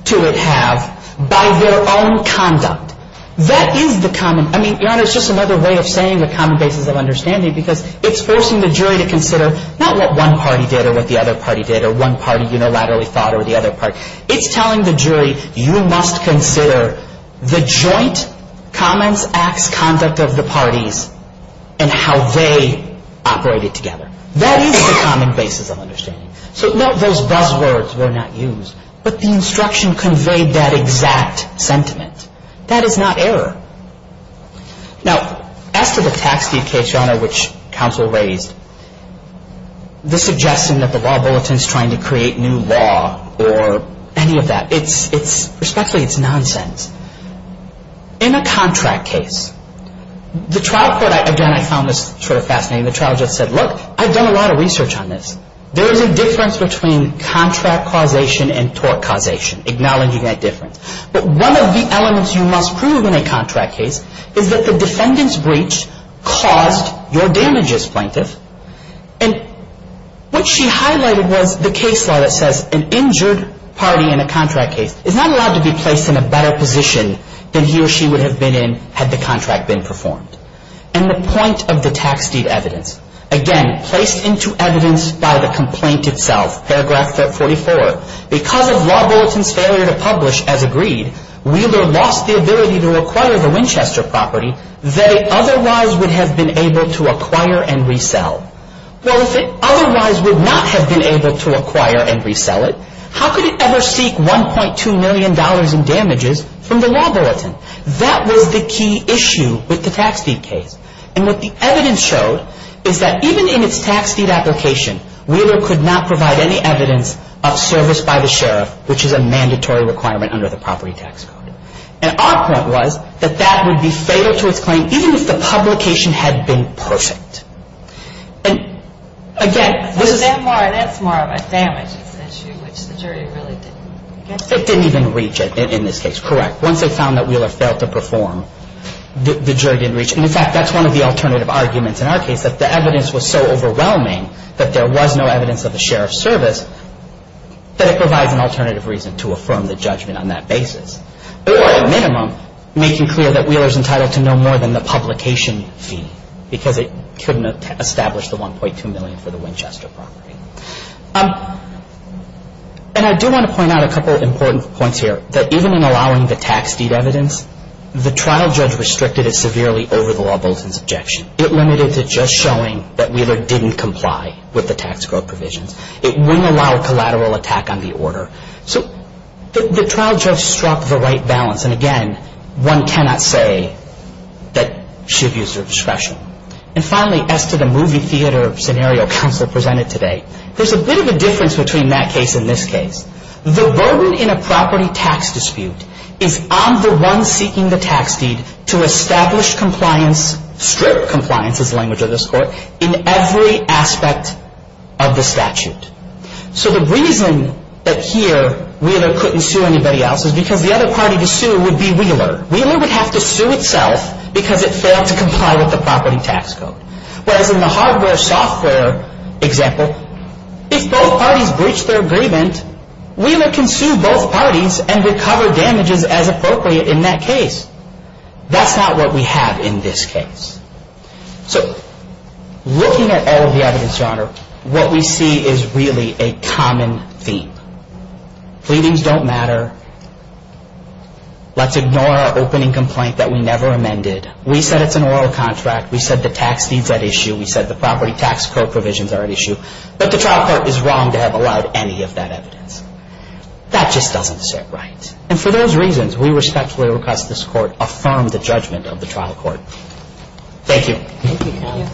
to it have by their own conduct. That is the common, I mean, Your Honor, it's just another way of saying the common basis of understanding because it's forcing the jury to consider not what one party did or what the other party did or one party unilaterally thought or the other party. It's telling the jury you must consider the joint comments, acts, conduct of the parties. And how they operated together. That is the common basis of understanding. So those buzz words were not used, but the instruction conveyed that exact sentiment. That is not error. Now, as to the tax deed case, Your Honor, which counsel raised, the suggestion that the law bulletin is trying to create new law or any of that, it's, respectfully, it's nonsense. In a contract case, the trial court, again, I found this sort of fascinating. The trial just said, look, I've done a lot of research on this. There is a difference between contract causation and tort causation, acknowledging that difference. But one of the elements you must prove in a contract case is that the defendant's breach caused your damages, plaintiff. And what she highlighted was the case law that says an injured party in a contract case is not allowed to be placed in a better position than he or she would have been in had the contract been performed. And the point of the tax deed evidence, again, placed into evidence by the complaint itself, paragraph 44. Because of law bulletin's failure to publish as agreed, Wheeler lost the ability to acquire the Winchester property that it otherwise would have been able to acquire and resell. Well, if it otherwise would not have been able to acquire and resell it, how could it ever seek $1.2 million in damages from the law bulletin? That was the key issue with the tax deed case. And what the evidence showed is that even in its tax deed application, Wheeler could not provide any evidence of service by the sheriff, which is a mandatory requirement under the property tax code. And our point was that that would be fatal to its claim, even if the publication had been perfect. And, again, this is... That's more of a damages issue, which the jury really didn't get to. It didn't even reach it in this case. Correct. Once they found that Wheeler failed to perform, the jury didn't reach it. And, in fact, that's one of the alternative arguments in our case, that the evidence was so overwhelming that there was no evidence of a sheriff's service that it provides an alternative reason to affirm the judgment on that basis. And that's the $1.2 million for the Winchester property. And I do want to point out a couple of important points here. That even in allowing the tax deed evidence, the trial judge restricted it severely over the law bulletin's objection. It limited it to just showing that Wheeler didn't comply with the tax code provisions. It wouldn't allow a collateral attack on the order. So the trial judge struck the right balance. And, again, one cannot say that she abused her discretion. And, finally, as to the movie theater scenario counsel presented today, there's a bit of a difference between that case and this case. The burden in a property tax dispute is on the one seeking the tax deed to establish compliance, strip compliance is the language of this court, in every aspect of the statute. So the reason that here Wheeler couldn't sue anybody else is because the other party to sue would be Wheeler. Wheeler would have to sue itself because it failed to comply with the property tax code. Whereas in the hardware software example, if both parties breached their agreement, Wheeler can sue both parties and recover damages as appropriate in that case. That's not what we have in this case. So looking at all of the evidence, Your Honor, what we see is really a common theme. Pleadings don't matter. Let's ignore our opening complaint that we never amended. We said it's an oral contract. We said the tax deed's at issue. Thank you.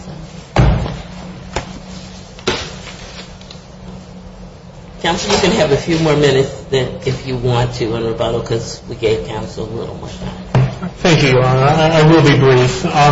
Counsel, you can have a few more minutes if you want to in rebuttal because we gave counsel a little more time. Thank you, Your Honor. I will be brief. I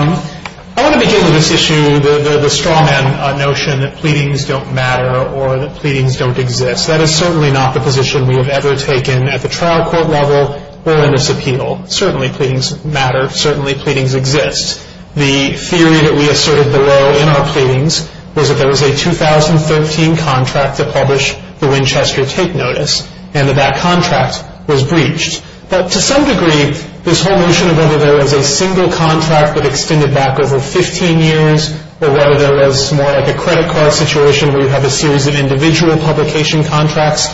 want to begin with this issue, the straw man notion that pleadings don't matter or that pleadings don't exist. That is certainly not the position we have ever taken at the trial court level or in this appeal. Certainly, pleadings matter. Certainly, pleadings exist. The theory that we asserted below in our pleadings was that there was a 2013 contract to publish the Winchester take notice and that that contract was breached. But to some degree, this whole notion of whether there was a single contract that extended back over 15 years or whether there was more like a credit card situation where you have a series of individual publication contracts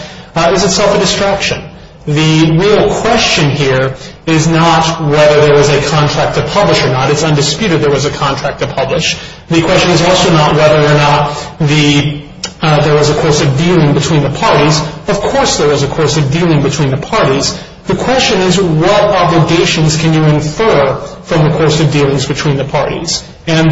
is itself a distraction. The real question here is not whether there was a contract to publish or not. It's undisputed there was a contract to publish. The question is also not whether or not there was a course of dealing between the parties. Of course, there was a course of dealing between the parties. The question is what obligations can you infer from the course of dealings between the parties. And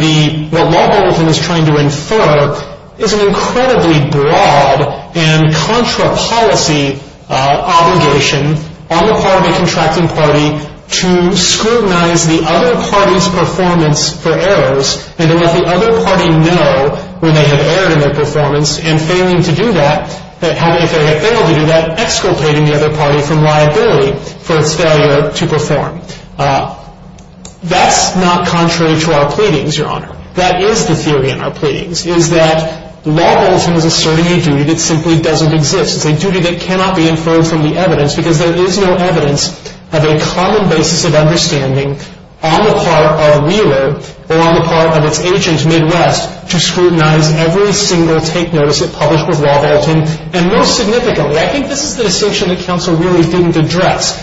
what Law Bolton is trying to infer is an incredibly broad and contra policy obligation on the part of the contracting party to scrutinize the other party's performance for errors and then let the other party know where they have erred in their performance and failing to do that, exculpating the other party from liability for its failure to perform. That's not contrary to our pleadings, Your Honor. That is the theory in our pleadings is that Law Bolton is asserting a duty that simply doesn't exist. It's a duty that cannot be inferred from the evidence because there is no evidence of a common basis of understanding on the part of Wheeler or on the part of its agents Midwest to scrutinize every single take notice that published with Law Bolton. And most significantly, I think this is the distinction that counsel really didn't address,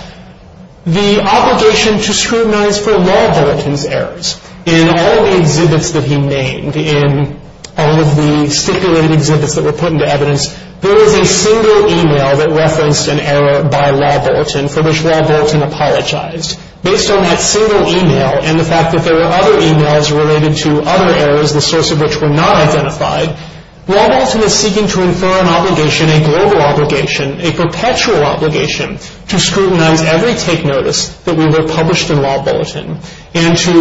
the obligation to scrutinize for Law Bolton's errors. In all the exhibits that he made, in all of the stipulated exhibits that were put into evidence, there was a single email that referenced an error by Law Bolton for which Law Bolton apologized. Based on that single email and the fact that there were other emails related to other errors, the source of which were not identified, Law Bolton is seeking to infer an obligation, a global obligation, a perpetual obligation to scrutinize every take notice that Wheeler published in Law Bolton and to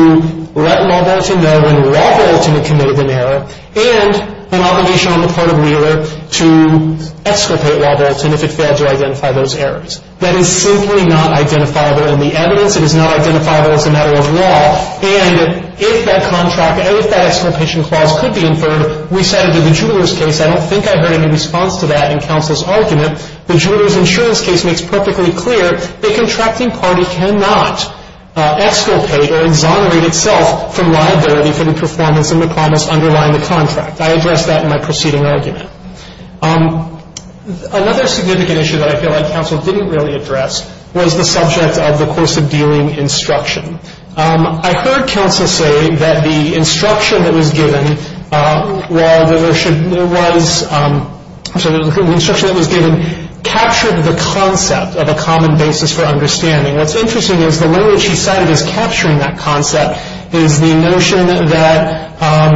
let Law Bolton know when Law Bolton had committed an error and an obligation on the part of Wheeler to exculpate Law Bolton if it failed to identify those errors. That is simply not identifiable in the evidence. It is not identifiable as a matter of law. And if that contract, if that exculpation clause could be inferred, we cited in the Jewelers case. I don't think I heard any response to that in counsel's argument. The Jewelers insurance case makes perfectly clear the contracting party cannot exculpate or exonerate itself from liability for the performance of a promise underlying the contract. I addressed that in my preceding argument. Another significant issue that I feel like counsel didn't really address was the subject of the course of dealing instruction. I heard counsel say that the instruction that was given, well, there should, there was, so the instruction that was given captured the concept of a common basis for understanding. What's interesting is the language he cited as capturing that concept is the notion that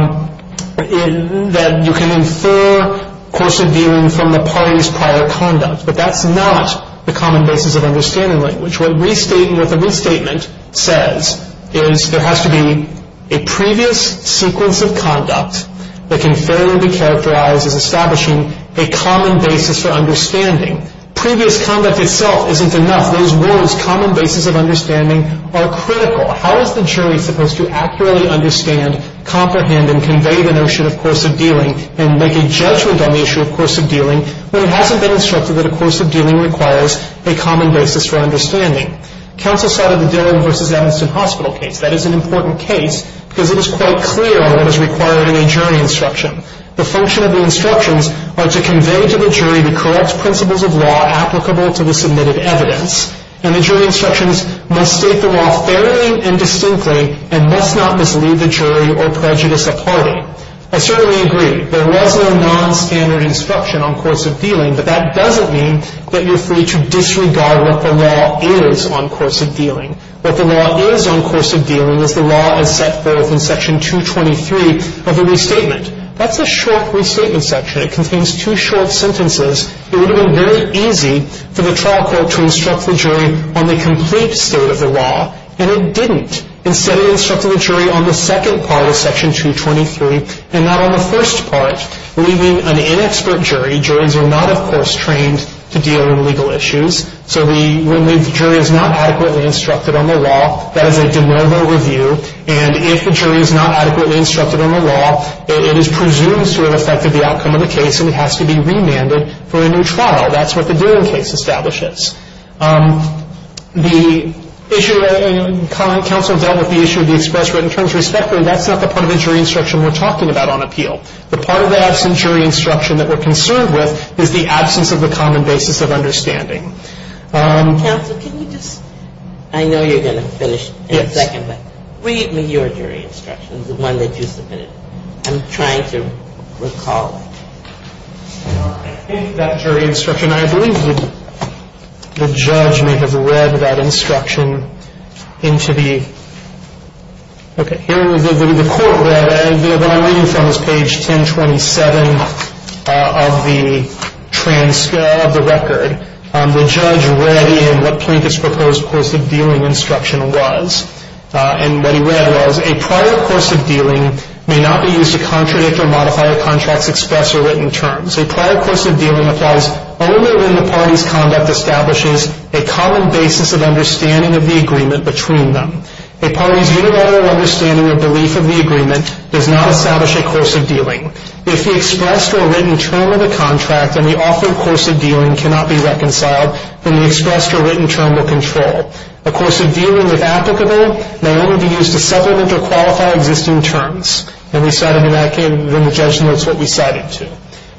you can infer course of dealing from the party's prior conduct, but that's not the common basis of understanding language. What the restatement says is there has to be a previous sequence of conduct that can fairly be characterized as establishing a common basis for understanding. Previous conduct itself isn't enough. Those words, common basis of understanding, are critical. How is the jury supposed to accurately understand, comprehend, and convey the notion of course of dealing and make a judgment on the issue of course of dealing when it hasn't been instructed that a course of dealing requires a common basis for understanding? Counsel cited the Dillon v. Evanston Hospital case. That is an important case because it is quite clear what is required in a jury instruction. The function of the instructions are to convey to the jury the correct principles of law applicable to the submitted evidence, and the jury instructions must state the law fairly and distinctly and must not mislead the jury or prejudice a party. I certainly agree there was no nonstandard instruction on course of dealing, but that doesn't mean that you're free to disregard what the law is on course of dealing. What the law is on course of dealing is the law as set forth in Section 223 of the restatement. That's a short restatement section. It contains two short sentences. It would have been very easy for the trial court to instruct the jury on the complete state of the law, and it didn't. Instead, it instructed the jury on the second part of Section 223 and not on the first part, leaving an inexpert jury. Juries are not, of course, trained to deal in legal issues, so when the jury is not adequately instructed on the law, that is a de novo review, and if the jury is not adequately instructed on the law, it is presumed to have affected the outcome of the case and it has to be remanded for a new trial. That's what the dealing case establishes. The issue that counsel dealt with, the issue of the express written terms respectively, that's not the part of the jury instruction we're talking about on appeal. The part of the absent jury instruction that we're concerned with is the absence of the common basis of understanding. Ginsburg. Counsel, can you just – I know you're going to finish in a second, but read me your jury instruction, the one that you submitted. I'm trying to recall. I think that jury instruction, I believe the judge may have read that instruction into the – okay. Here, the court read – what I'm reading from is page 1027 of the transcript of the record. The judge read in what Plinkett's proposed course of dealing instruction was, and what he read was, a prior course of dealing may not be used to contradict or modify a contract's express or written terms. A prior course of dealing applies only when the party's conduct establishes a common basis of understanding of the agreement between them. A party's unilateral understanding or belief of the agreement does not establish a course of dealing. If the expressed or written term of the contract and the offered course of dealing cannot be reconciled, then the expressed or written term will control. A course of dealing, if applicable, may only be used to supplement or qualify existing terms. And we cited in that case – and the judge notes what we cited, too.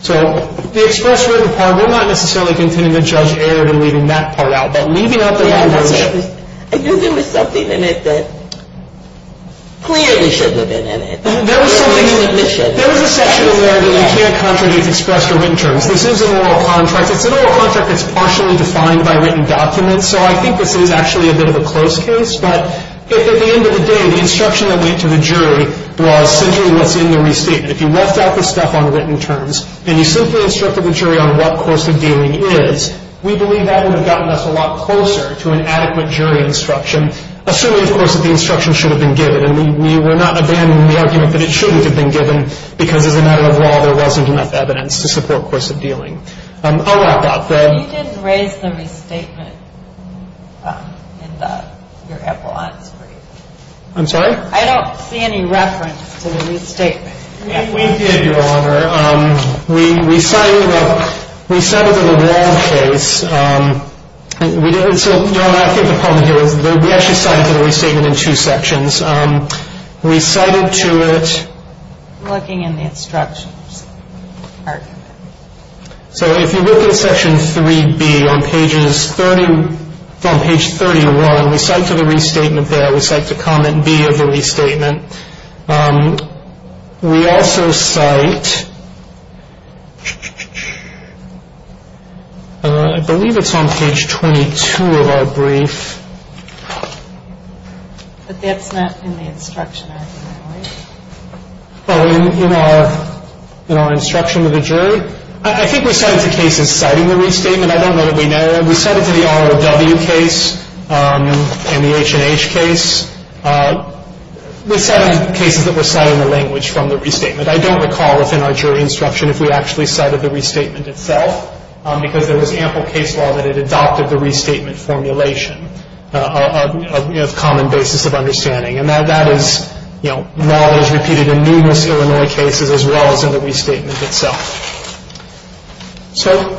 So the express written part, we're not necessarily continuing to judge error in leaving that part out, but leaving out the – I think there was something in it that clearly should have been in it. There was a section where you can't contradict expressed or written terms. This is an oral contract. It's an oral contract that's partially defined by written documents, so I think this is actually a bit of a close case. But at the end of the day, the instruction that went to the jury was essentially what's in the restatement. If you left out the stuff on written terms and you simply instructed the jury on what course of dealing is, we believe that would have gotten us a lot closer to an adequate jury instruction, assuming, of course, that the instruction should have been given. And we're not abandoning the argument that it shouldn't have been given because, as a matter of law, there wasn't enough evidence to support course of dealing. I'll wrap up. You didn't raise the restatement in your epilogue. I'm sorry? I don't see any reference to the restatement. We did, Your Honor. We cited it in a broad case. So, Your Honor, I think the problem here is we actually cited the restatement in two sections. We cited to it. I'm looking in the instructions. So if you look at Section 3B on page 31, we cite to the restatement there. We cite to comment B of the restatement. We also cite, I believe it's on page 22 of our brief. But that's not in the instruction, I believe. Oh, in our instruction to the jury? I think we cite it to cases citing the restatement. I don't know that we know. We cite it to the ROW case and the H&H case. We cited cases that were citing the language from the restatement. I don't recall if in our jury instruction if we actually cited the restatement itself because there was ample case law that it adopted the restatement formulation of common basis of understanding. And that is, you know, knowledge repeated in numerous Illinois cases as well as in the restatement itself. So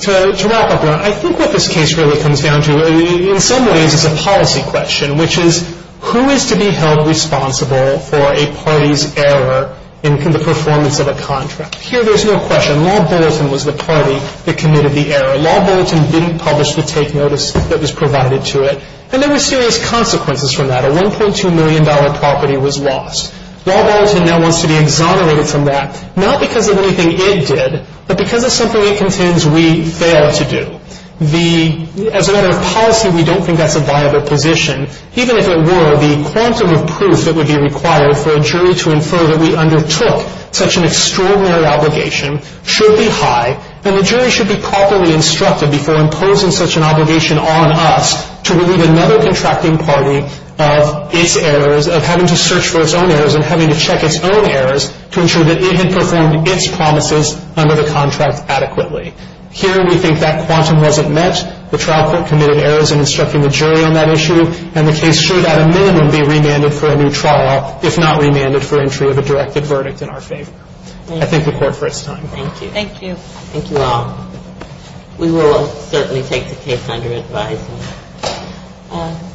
to wrap up, Your Honor, I think what this case really comes down to in some ways is a policy question, which is who is to be held responsible for a party's error in the performance of a contract? Here there's no question. Law Bulletin was the party that committed the error. Law Bulletin didn't publish the take notice that was provided to it. And there were serious consequences from that. A $1.2 million property was lost. Law Bulletin now wants to be exonerated from that, not because of anything it did, but because of something it contends we failed to do. As a matter of policy, we don't think that's a viable position. Even if it were, the quantum of proof that would be required for a jury to infer that we undertook such an extraordinary obligation should be high, and the jury should be properly instructed before imposing such an obligation on us to relieve another contracting party of its errors, of having to search for its own errors and having to check its own errors to ensure that it had performed its promises under the contract adequately. Here we think that quantum wasn't met. The trial court committed errors in instructing the jury on that issue, and the case should at a minimum be remanded for a new trial, if not remanded for entry of a directed verdict in our favor. I thank the Court for its time. Thank you. Thank you. Thank you all. We will certainly take the case under advisement.